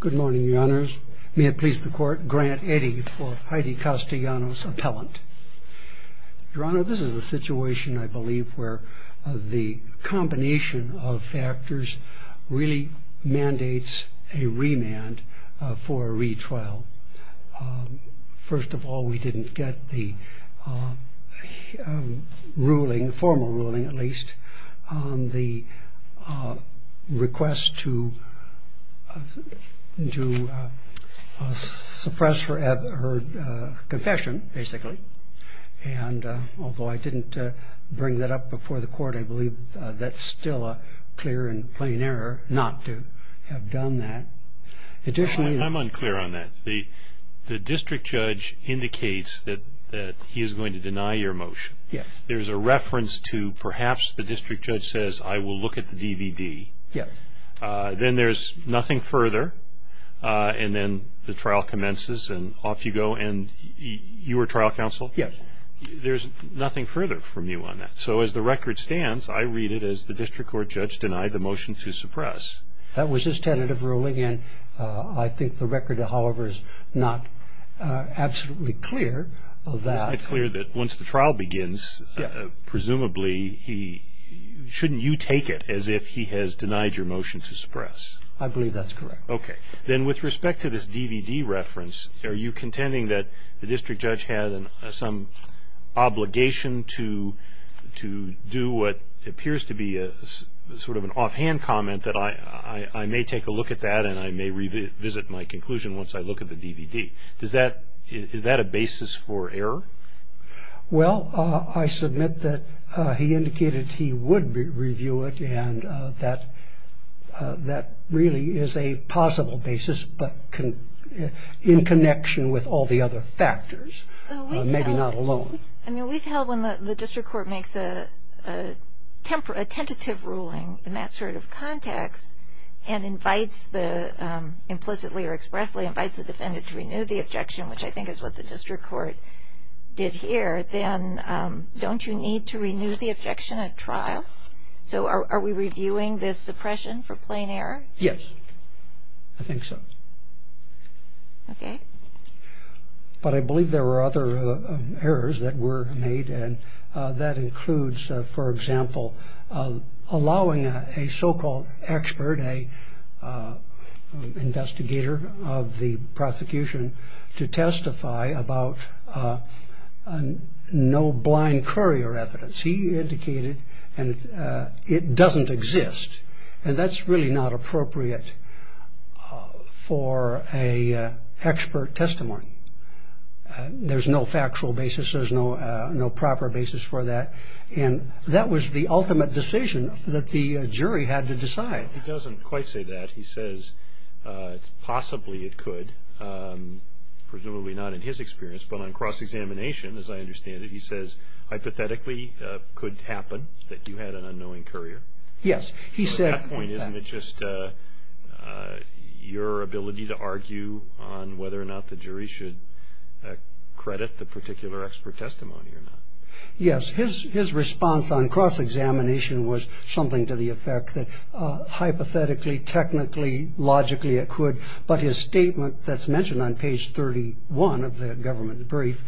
Good morning, Your Honors. May it please the Court, Grant Eddy for Heidy Castellanos, Appellant. Your Honor, this is a situation, I believe, where the combination of factors really mandates a remand for a retrial. First of all, we didn't get the ruling, formal ruling at least, on the request to suppress her confession, basically. And although I didn't bring that up before the Court, I believe that's still a clear and plain error not to have done that. I'm unclear on that. The district judge indicates that he is going to deny your motion. There's a reference to, perhaps, the district judge says, I will look at the DVD. Then there's nothing further, and then the trial commences, and off you go, and you were trial counsel? There's nothing further from you on that. So as the record stands, I read it as the district court judge denied the motion to suppress. That was his tentative ruling, and I think the record, however, is not absolutely clear of that. It's not clear that once the trial begins, presumably, shouldn't you take it as if he has denied your motion to suppress? I believe that's correct. Okay. Then with respect to this DVD reference, are you contending that the district judge had some obligation to do what appears to be sort of an offhand comment that I may take a look at that, and I may revisit my conclusion once I look at the DVD? Is that a basis for error? Well, I submit that he indicated he would review it, and that really is a possible basis, but in connection with all the other factors, maybe not alone. I mean, we've held when the district court makes a tentative ruling in that sort of context and invites the, implicitly or expressly, invites the defendant to renew the objection, which I think is what the district court did here, then don't you need to renew the objection at trial? So are we reviewing this suppression for plain error? Yes. I think so. Okay. But I believe there were other errors that were made, and that includes, for example, allowing a so-called expert, an investigator of the prosecution, to testify about no blind courier evidence. He indicated it doesn't exist, and that's really not appropriate for an expert testimony. There's no factual basis. There's no proper basis for that, and that was the ultimate decision that the jury had to decide. He doesn't quite say that. He says possibly it could, presumably not in his experience, but on cross-examination, as I understand it, he says hypothetically could happen that you had an unknowing courier. Yes. He said at that point, isn't it just your ability to argue on whether or not the jury should credit the particular expert testimony or not? Yes. His response on cross-examination was something to the effect that hypothetically, technically, logically it could, but his statement that's mentioned on page 31 of the government brief,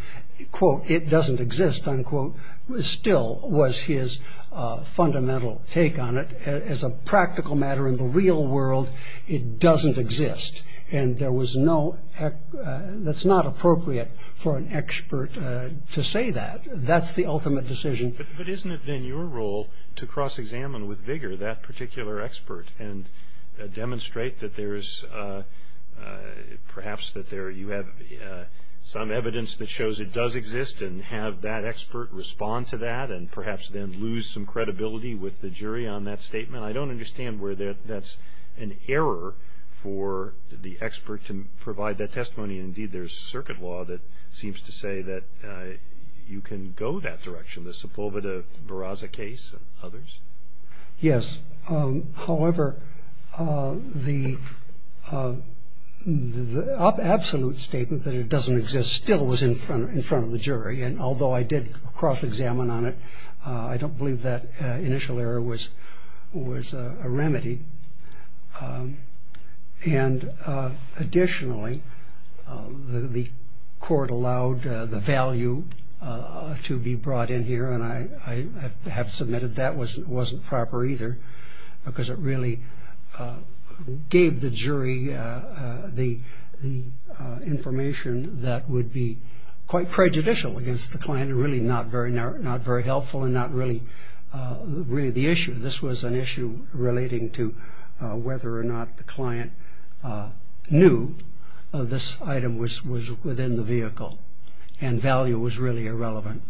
quote, it doesn't exist, unquote, still was his fundamental take on it. As a practical matter in the real world, it doesn't exist, and that's not appropriate for an expert to say that. That's the ultimate decision. But isn't it then your role to cross-examine with vigor that particular expert and demonstrate that there's perhaps that there you have some evidence that shows it does exist and have that expert respond to that and perhaps then lose some credibility with the jury on that statement? I don't understand where that's an error for the expert to provide that testimony. Indeed, there's circuit law that seems to say that you can go that direction, the Sepulveda-Barraza case and others. Yes. However, the absolute statement that it doesn't exist still was in front of the jury. And although I did cross-examine on it, I don't believe that initial error was a remedy. And additionally, the court allowed the value to be brought in here, and I have submitted that wasn't proper either because it really gave the jury the information that would be quite prejudicial against the client, really not very helpful and not really the issue. I believe this was an issue relating to whether or not the client knew this item was within the vehicle and value was really irrelevant.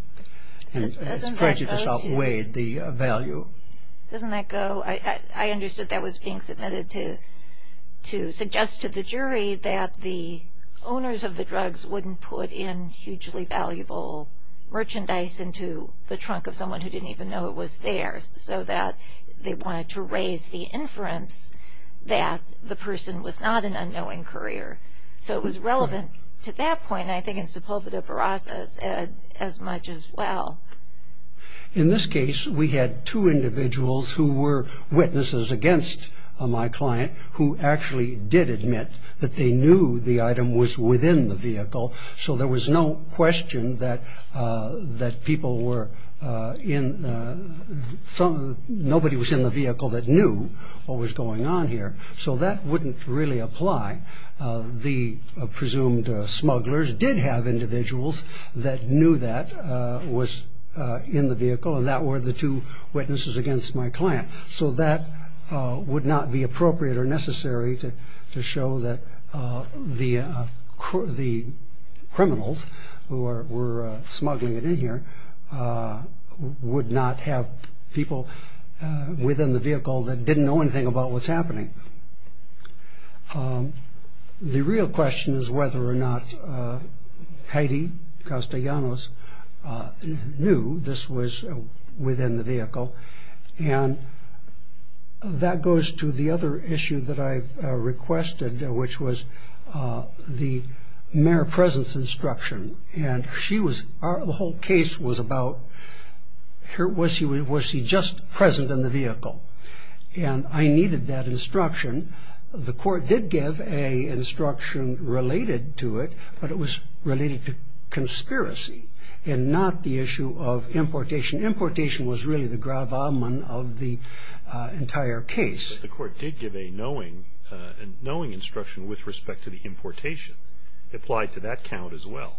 And it's prejudice outweighed the value. Doesn't that go? I understood that was being submitted to suggest to the jury that the owners of the drugs wouldn't put in hugely valuable merchandise into the trunk of someone who didn't even know it was theirs so that they wanted to raise the inference that the person was not an unknowing courier. So it was relevant to that point, I think, in Sepulveda-Barraza's as much as well. In this case, we had two individuals who were witnesses against my client who actually did admit that they knew the item was within the vehicle. So there was no question that nobody was in the vehicle that knew what was going on here. So that wouldn't really apply. The presumed smugglers did have individuals that knew that was in the vehicle, and that were the two witnesses against my client. So that would not be appropriate or necessary to show that the criminals who were smuggling it in here would not have people within the vehicle that didn't know anything about what's happening. The real question is whether or not Heidi Castellanos knew this was within the vehicle, and that goes to the other issue that I requested, which was the mere presence instruction. The whole case was about, was she just present in the vehicle? And I needed that instruction. The court did give an instruction related to it, but it was related to conspiracy and not the issue of importation. Importation was really the gravamen of the entire case. But the court did give a knowing instruction with respect to the importation. It applied to that count as well,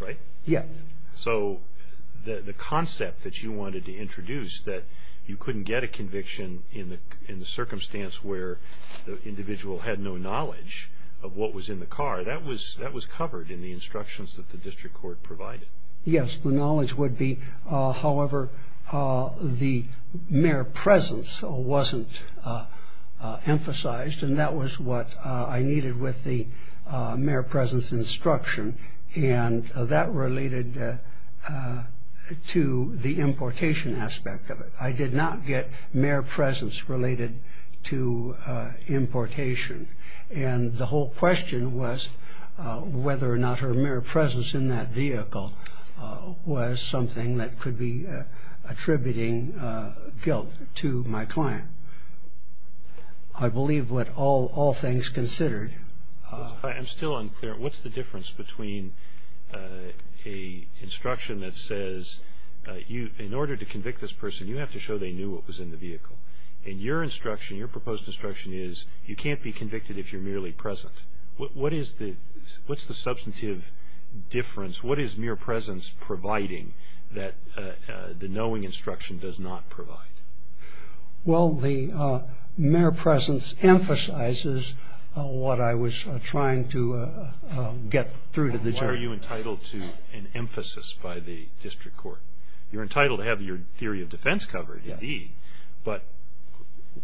right? Yes. So the concept that you wanted to introduce, that you couldn't get a conviction in the circumstance where the individual had no knowledge of what was in the car, that was covered in the instructions that the district court provided. Yes, the knowledge would be. However, the mere presence wasn't emphasized, and that was what I needed with the mere presence instruction. And that related to the importation aspect of it. I did not get mere presence related to importation. And the whole question was whether or not her mere presence in that vehicle was something that could be attributing guilt to my client. I believe what all things considered. I'm still unclear. What's the difference between an instruction that says, in order to convict this person, you have to show they knew what was in the vehicle? And your instruction, your proposed instruction is, you can't be convicted if you're merely present. What is the substantive difference? What is mere presence providing that the knowing instruction does not provide? Well, the mere presence emphasizes what I was trying to get through to the jury. Why are you entitled to an emphasis by the district court? You're entitled to have your theory of defense covered, indeed. But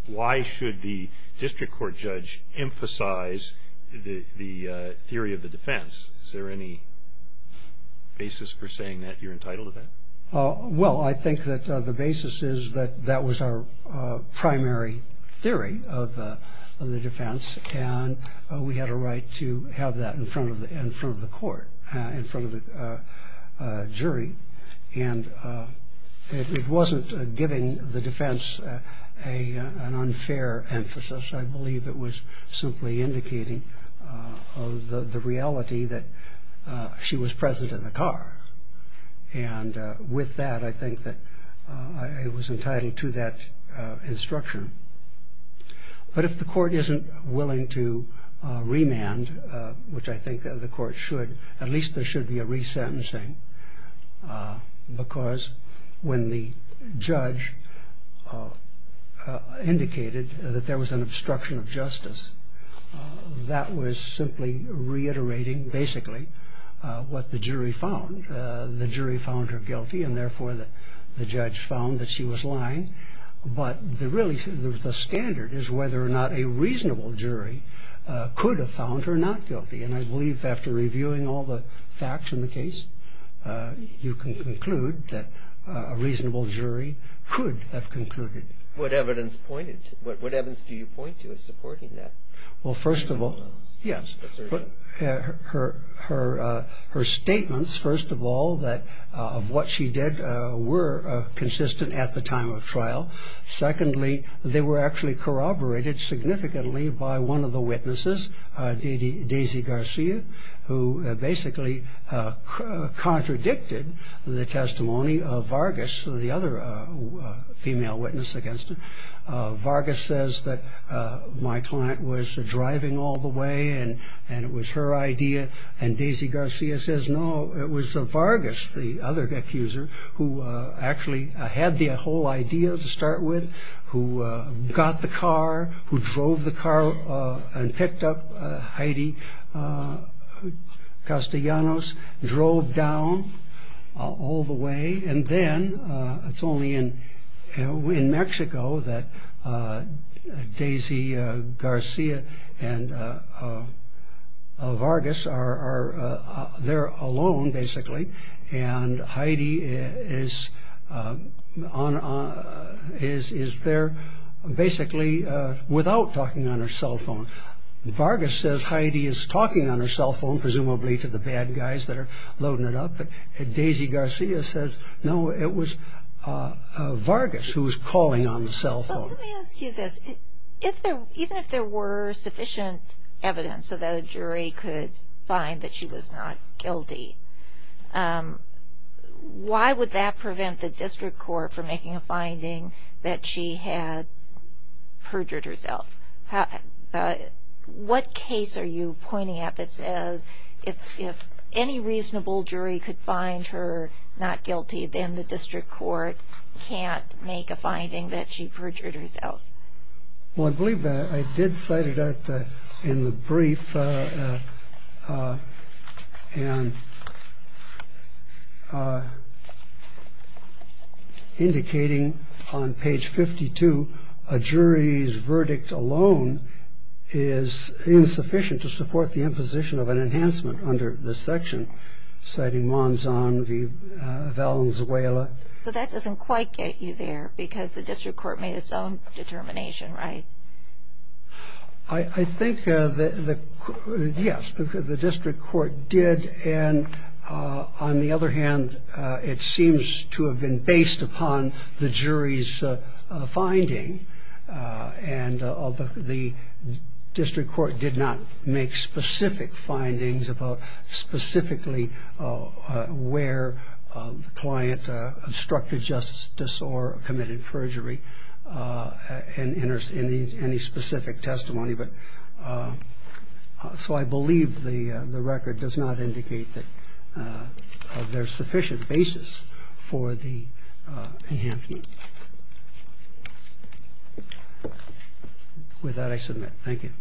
why should the district court judge emphasize the theory of the defense? Is there any basis for saying that you're entitled to that? Well, I think that the basis is that that was our primary theory of the defense. And we had a right to have that in front of the court, in front of the jury. And it wasn't giving the defense an unfair emphasis. I believe it was simply indicating the reality that she was present in the car. And with that, I think that I was entitled to that instruction. But if the court isn't willing to remand, which I think the court should, at least there should be a resentencing. Because when the judge indicated that there was an obstruction of justice, that was simply reiterating, basically, what the jury found. The jury found her guilty, and therefore the judge found that she was lying. But really, the standard is whether or not a reasonable jury could have found her not guilty. And I believe after reviewing all the facts in the case, you can conclude that a reasonable jury could have concluded. What evidence do you point to as supporting that? Well, first of all, yes. Her statements, first of all, of what she did were consistent at the time of trial. Secondly, they were actually corroborated significantly by one of the witnesses, Daisy Garcia, who basically contradicted the testimony of Vargas, the other female witness against her. Vargas says that my client was driving all the way, and it was her idea. And Daisy Garcia says, no, it was Vargas, the other accuser, who actually had the whole idea to start with, who got the car, who drove the car and picked up Heidi Castellanos, drove down all the way. And then it's only in Mexico that Daisy Garcia and Vargas are there alone, basically, and Heidi is there basically without talking on her cell phone. Vargas says Heidi is talking on her cell phone, presumably to the bad guys that are loading it up. And Daisy Garcia says, no, it was Vargas who was calling on the cell phone. Let me ask you this. Even if there were sufficient evidence so that a jury could find that she was not guilty, why would that prevent the district court from making a finding that she had perjured herself? What case are you pointing at that says if any reasonable jury could find her not guilty, then the district court can't make a finding that she perjured herself? Well, I believe I did cite it in the brief, indicating on page 52 a jury's verdict alone is insufficient to support the imposition of an enhancement under this section, citing Monzon v. Valenzuela. So that doesn't quite get you there because the district court made its own determination, right? I think, yes, the district court did. And on the other hand, it seems to have been based upon the jury's finding, and the district court did not make specific findings about specifically where the client obstructed justice or committed perjury in any specific testimony. So I believe the record does not indicate that there's sufficient basis for the enhancement. With that, I submit. Thank you.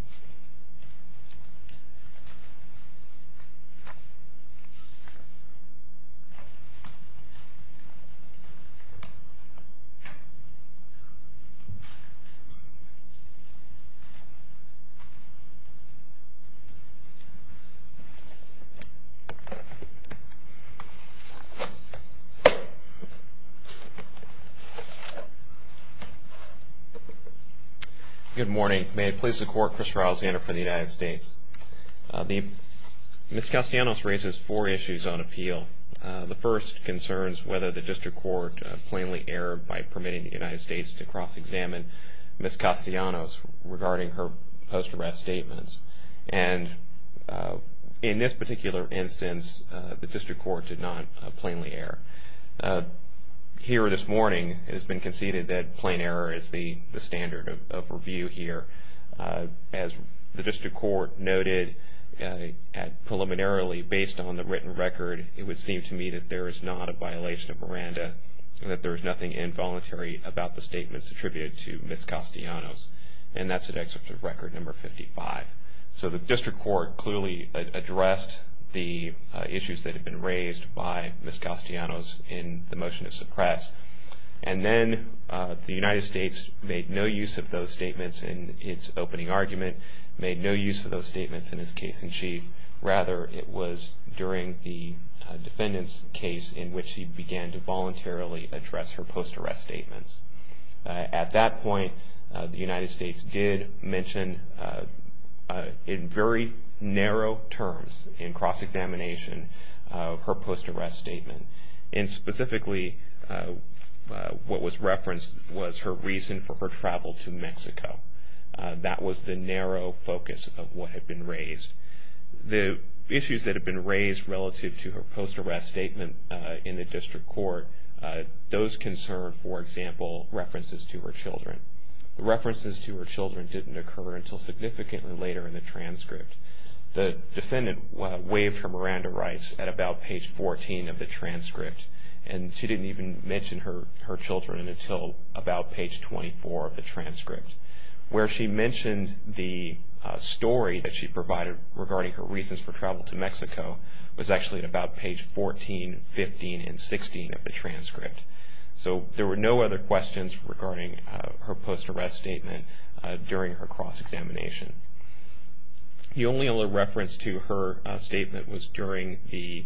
Good morning. May it please the Court, Chris Rousander for the United States. Ms. Castellanos raises four issues on appeal. The first concerns whether the district court plainly erred by permitting the United States to cross-examine Ms. Castellanos regarding her post-arrest statements. And in this particular instance, the district court did not plainly err. Here this morning, it has been conceded that plain error is the standard of review here. As the district court noted preliminarily, based on the written record, it would seem to me that there is not a violation of Miranda and that there is nothing involuntary about the statements attributed to Ms. Castellanos. And that's at Excerpt of Record No. 55. So the district court clearly addressed the issues that had been raised by Ms. Castellanos in the motion to suppress. And then the United States made no use of those statements in its opening argument, made no use of those statements in its case in chief. Rather, it was during the defendant's case in which she began to voluntarily address her post-arrest statements. At that point, the United States did mention in very narrow terms in cross-examination her post-arrest statement. And specifically, what was referenced was her reason for her travel to Mexico. That was the narrow focus of what had been raised. The issues that had been raised relative to her post-arrest statement in the district court, those concerned, for example, references to her children. The references to her children didn't occur until significantly later in the transcript. The defendant waived her Miranda rights at about page 14 of the transcript, and she didn't even mention her children until about page 24 of the transcript. Where she mentioned the story that she provided regarding her reasons for travel to Mexico was actually at about page 14, 15, and 16 of the transcript. So there were no other questions regarding her post-arrest statement during her cross-examination. The only other reference to her statement was during the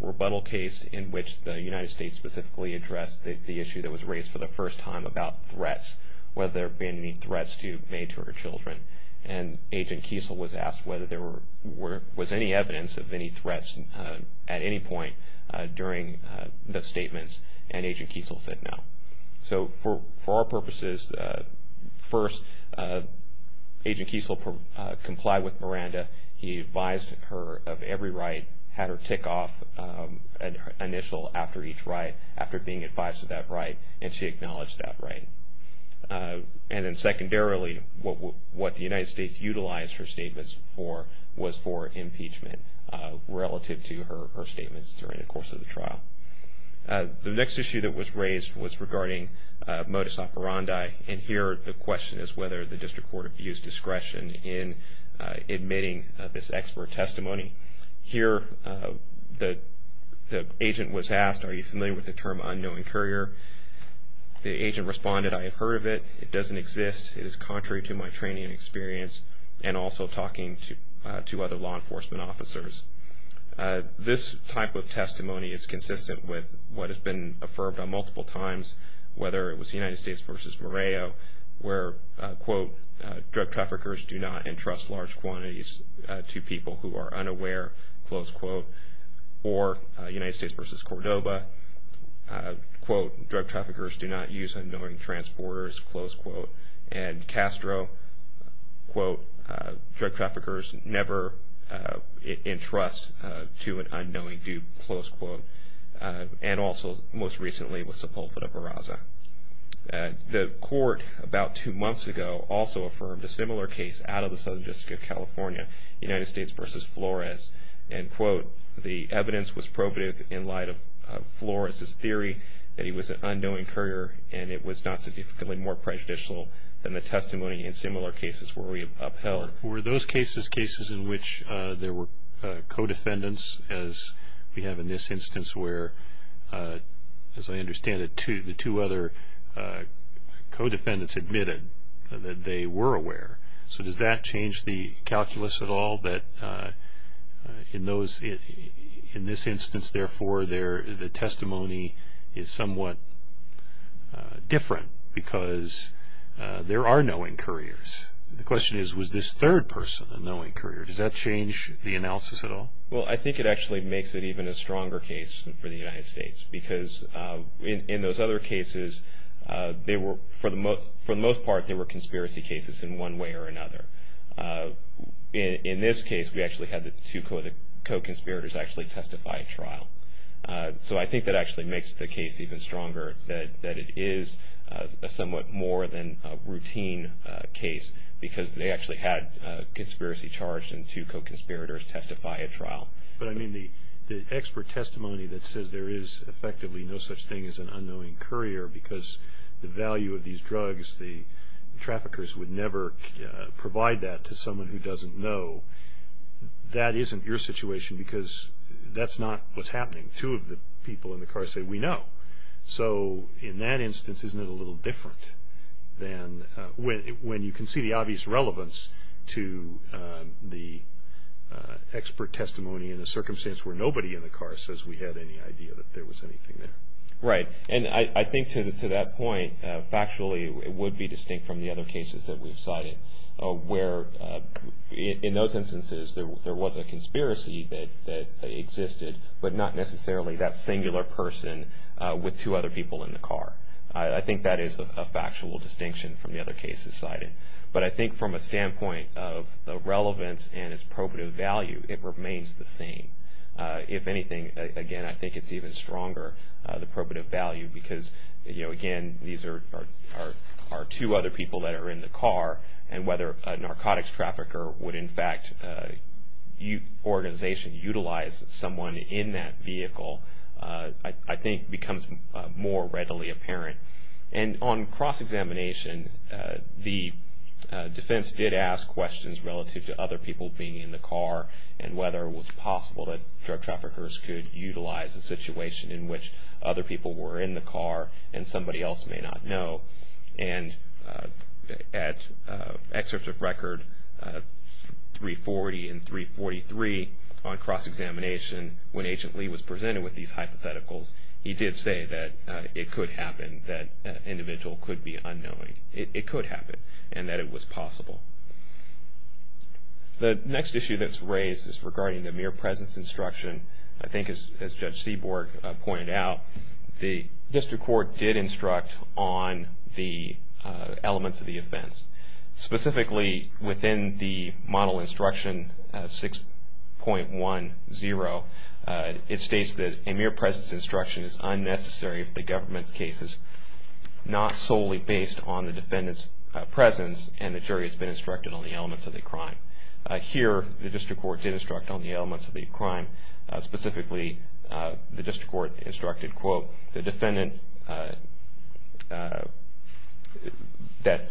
rebuttal case in which the United States specifically addressed the issue that was raised for the first time about threats, whether there had been any threats made to her children. And Agent Kiesel was asked whether there was any evidence of any threats at any point during the statements, and Agent Kiesel said no. So for our purposes, first, Agent Kiesel complied with Miranda. He advised her of every right, had her tick off initial after each right, after being advised of that right, and she acknowledged that right. And then secondarily, what the United States utilized her statements for was for impeachment relative to her statements during the course of the trial. The next issue that was raised was regarding modus operandi, and here the question is whether the district court abused discretion in admitting this expert testimony. Here the agent was asked, are you familiar with the term unknowing courier? The agent responded, I have heard of it. It doesn't exist. It is contrary to my training and experience, and also talking to other law enforcement officers. This type of testimony is consistent with what has been affirmed on multiple times, whether it was the United States versus Moreo, where, quote, drug traffickers do not entrust large quantities to people who are unaware, close quote, or United States versus Cordoba, quote, drug traffickers do not use unknowing transporters, close quote, and Castro, quote, drug traffickers never entrust to an unknowing dude, close quote, and also most recently with Sepulveda Barraza. The court about two months ago also affirmed a similar case out of the Southern District of California, United States versus Flores, end quote. The evidence was probative in light of Flores' theory that he was an unknowing courier and it was not significantly more prejudicial than the testimony in similar cases where we upheld. Were those cases cases in which there were co-defendants, as we have in this instance, where, as I understand it, the two other co-defendants admitted that they were aware. So does that change the calculus at all that in this instance, therefore, the testimony is somewhat different because there are knowing couriers? The question is, was this third person a knowing courier? Does that change the analysis at all? Well, I think it actually makes it even a stronger case for the United States because in those other cases, for the most part, they were conspiracy cases in one way or another. In this case, we actually had the two co-conspirators actually testify at trial. So I think that actually makes the case even stronger, that it is a somewhat more than routine case because they actually had conspiracy charged and two co-conspirators testify at trial. But, I mean, the expert testimony that says there is effectively no such thing as an unknowing courier because the value of these drugs, the traffickers would never provide that to someone who doesn't know, that isn't your situation because that's not what's happening. Two of the people in the car say, we know. So in that instance, isn't it a little different than when you can see the obvious relevance to the expert testimony in a circumstance where nobody in the car says we had any idea that there was anything there? Right. And I think to that point, factually, it would be distinct from the other cases that we've cited where in those instances there was a conspiracy that existed, but not necessarily that singular person with two other people in the car. I think that is a factual distinction from the other cases cited. But I think from a standpoint of the relevance and its probative value, it remains the same. If anything, again, I think it's even stronger, the probative value, because, you know, again, these are two other people that are in the car and whether a narcotics trafficker would in fact organization utilize someone in that vehicle, I think becomes more readily apparent. And on cross-examination, the defense did ask questions relative to other people being in the car and whether it was possible that drug traffickers could utilize a situation in which other people were in the car and somebody else may not know. And at excerpts of record 340 and 343 on cross-examination, when Agent Lee was presented with these hypotheticals, he did say that it could happen, that an individual could be unknowing. It could happen and that it was possible. The next issue that's raised is regarding the mere presence instruction. I think as Judge Seaborg pointed out, the district court did instruct on the elements of the offense. Specifically within the model instruction 6.10, it states that a mere presence instruction is unnecessary if the government's case is not solely based on the defendant's presence and the jury has been instructed on the elements of the crime. Here, the district court did instruct on the elements of the crime. Specifically, the district court instructed, quote, the defendant that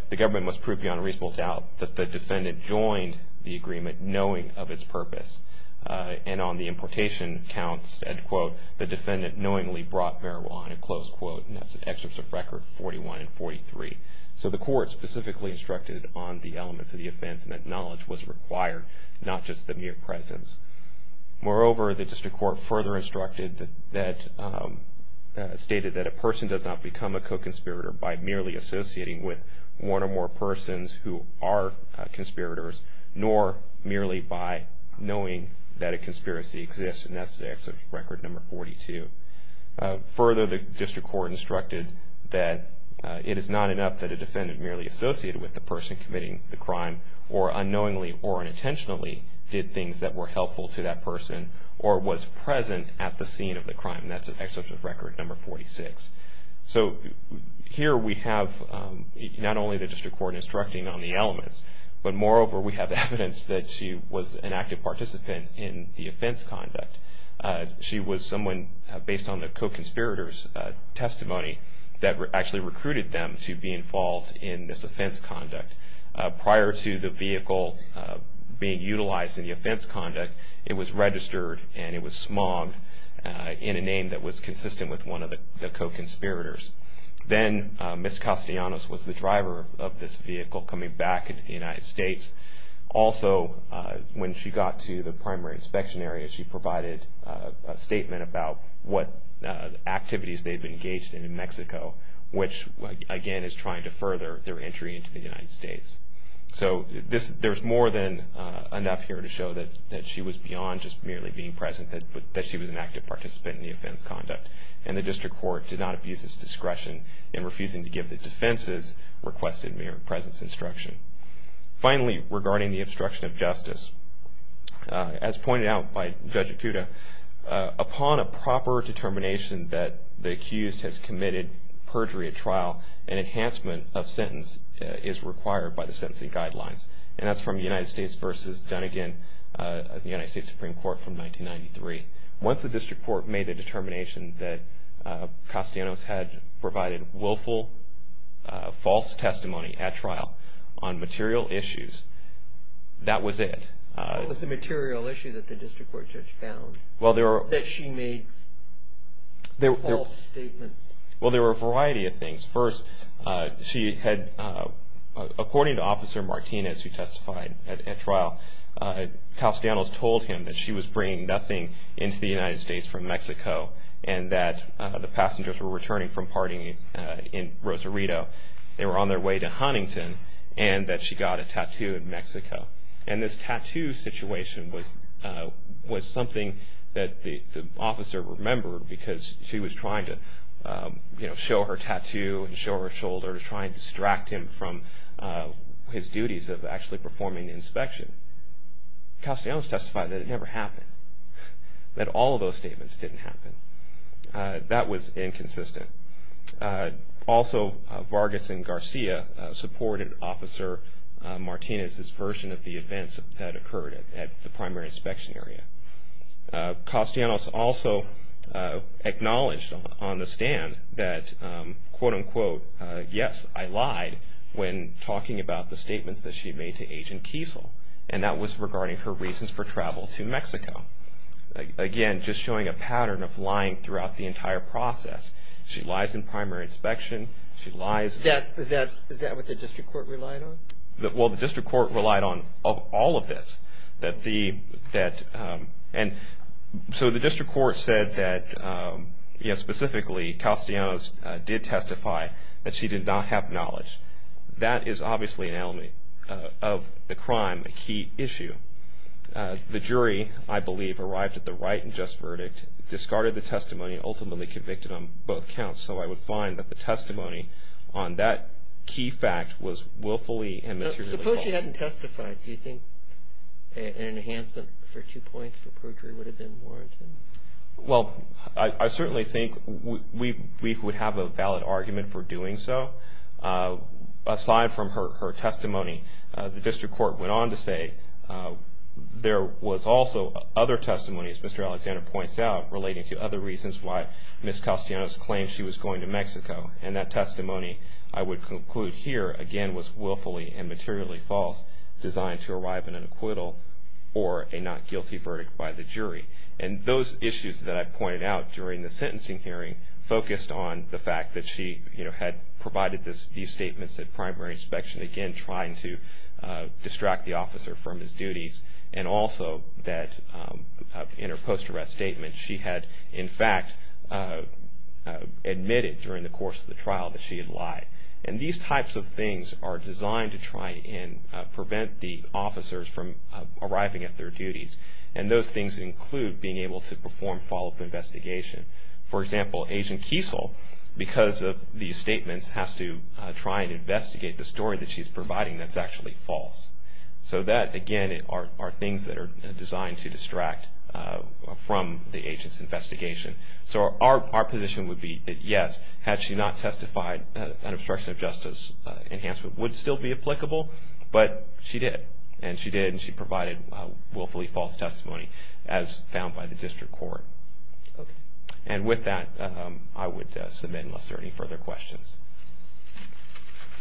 the government must prove beyond reasonable doubt that the defendant joined the agreement knowing of its purpose. And on the importation counts, end quote, the defendant knowingly brought marijuana, close quote. And that's excerpts of record 41 and 43. So the court specifically instructed on the elements of the offense and that knowledge was required, not just the mere presence. Moreover, the district court further stated that a person does not become a co-conspirator by merely associating with one or more persons who are conspirators, nor merely by knowing that a conspiracy exists. And that's the excerpt of record number 42. Further, the district court instructed that it is not enough that a defendant merely associated with the person committing the crime or unknowingly or unintentionally did things that were helpful to that person or was present at the scene of the crime. And that's an excerpt of record number 46. So here we have not only the district court instructing on the elements, but moreover we have evidence that she was an active participant in the offense conduct. She was someone, based on the co-conspirators' testimony, that actually recruited them to be involved in this offense conduct. Prior to the vehicle being utilized in the offense conduct, it was registered and it was smogged in a name that was consistent with one of the co-conspirators. Then Ms. Castellanos was the driver of this vehicle coming back into the United States. Also, when she got to the primary inspection area, she provided a statement about what activities they had been engaged in in Mexico, which, again, is trying to further their entry into the United States. So there's more than enough here to show that she was beyond just merely being present, that she was an active participant in the offense conduct. And the district court did not abuse its discretion in refusing to give the defense's requested mere presence instruction. Finally, regarding the obstruction of justice, as pointed out by Judge Acuda, upon a proper determination that the accused has committed perjury at trial, an enhancement of sentence is required by the sentencing guidelines. And that's from the United States v. Dunnegan of the United States Supreme Court from 1993. Once the district court made a determination that Castellanos had provided willful false testimony at trial on material issues, that was it. What was the material issue that the district court judge found that she made false statements? Well, there were a variety of things. First, according to Officer Martinez, who testified at trial, Castellanos told him that she was bringing nothing into the United States from Mexico and that the passengers were returning from partying in Rosarito. They were on their way to Huntington and that she got a tattoo in Mexico. And this tattoo situation was something that the officer remembered because she was trying to show her tattoo and show her shoulder to try and distract him from his duties of actually performing the inspection. Castellanos testified that it never happened, that all of those statements didn't happen. That was inconsistent. Also Vargas and Garcia supported Officer Martinez's version of the events that occurred at the primary inspection area. Castellanos also acknowledged on the stand that, quote-unquote, yes, I lied when talking about the statements that she made to Agent Kiesel. And that was regarding her reasons for travel to Mexico. Again, just showing a pattern of lying throughout the entire process. She lies in primary inspection. Is that what the district court relied on? Well, the district court relied on all of this. So the district court said that, specifically, Castellanos did testify that she did not have knowledge. That is obviously an element of the crime, a key issue. The jury, I believe, arrived at the right and just verdict, discarded the testimony, ultimately convicted on both counts. So I would find that the testimony on that key fact was willfully and materially false. Suppose she hadn't testified. Do you think an enhancement for two points for perjury would have been warranted? Well, I certainly think we would have a valid argument for doing so. Aside from her testimony, the district court went on to say there was also other testimony, as Mr. Alexander points out, relating to other reasons why Ms. Castellanos claimed she was going to Mexico. And that testimony, I would conclude here, again, was willfully and materially false, designed to arrive at an acquittal or a not guilty verdict by the jury. And those issues that I pointed out during the sentencing hearing focused on the fact that she had provided these statements at primary inspection, again, trying to distract the officer from his duties, and also that in her post-arrest statement, she had in fact admitted during the course of the trial that she had lied. And these types of things are designed to try and prevent the officers from arriving at their duties. And those things include being able to perform follow-up investigation. For example, Agent Kiesel, because of these statements, has to try and investigate the story that she's providing that's actually false. So that, again, are things that are designed to distract from the agent's investigation. So our position would be that, yes, had she not testified, an obstruction of justice enhancement would still be applicable, but she did. And she did, and she provided willfully false testimony, as found by the district court. And with that, I would submit, unless there are any further questions.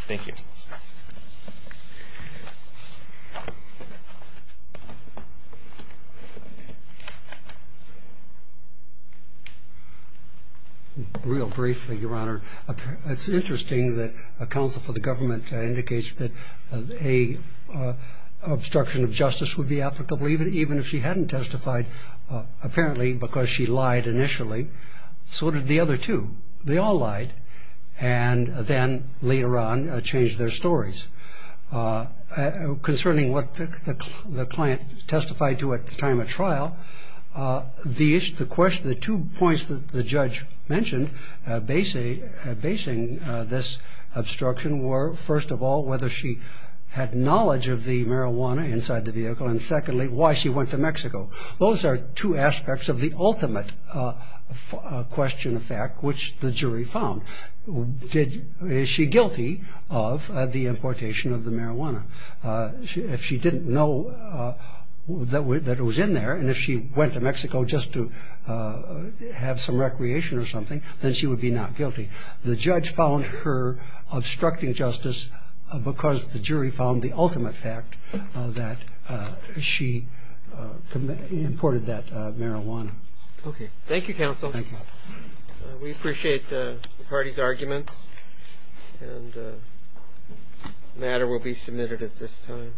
Thank you. Real briefly, Your Honor. It's interesting that a counsel for the government indicates that an obstruction of justice would be applicable even if she hadn't testified, apparently because she lied initially. So did the other two. They all lied, and then later on changed their stories. Concerning what the client testified to at the time of trial, the two points that the judge mentioned basing this obstruction were, first of all, whether she had knowledge of the marijuana inside the vehicle, and secondly, why she went to Mexico. Those are two aspects of the ultimate question of fact, which the jury found. Is she guilty of the importation of the marijuana? If she didn't know that it was in there, and if she went to Mexico just to have some recreation or something, then she would be not guilty. The judge found her obstructing justice because the jury found the ultimate fact that she imported that marijuana. Okay. Thank you, counsel. Thank you. We appreciate the party's arguments, and the matter will be submitted at this time.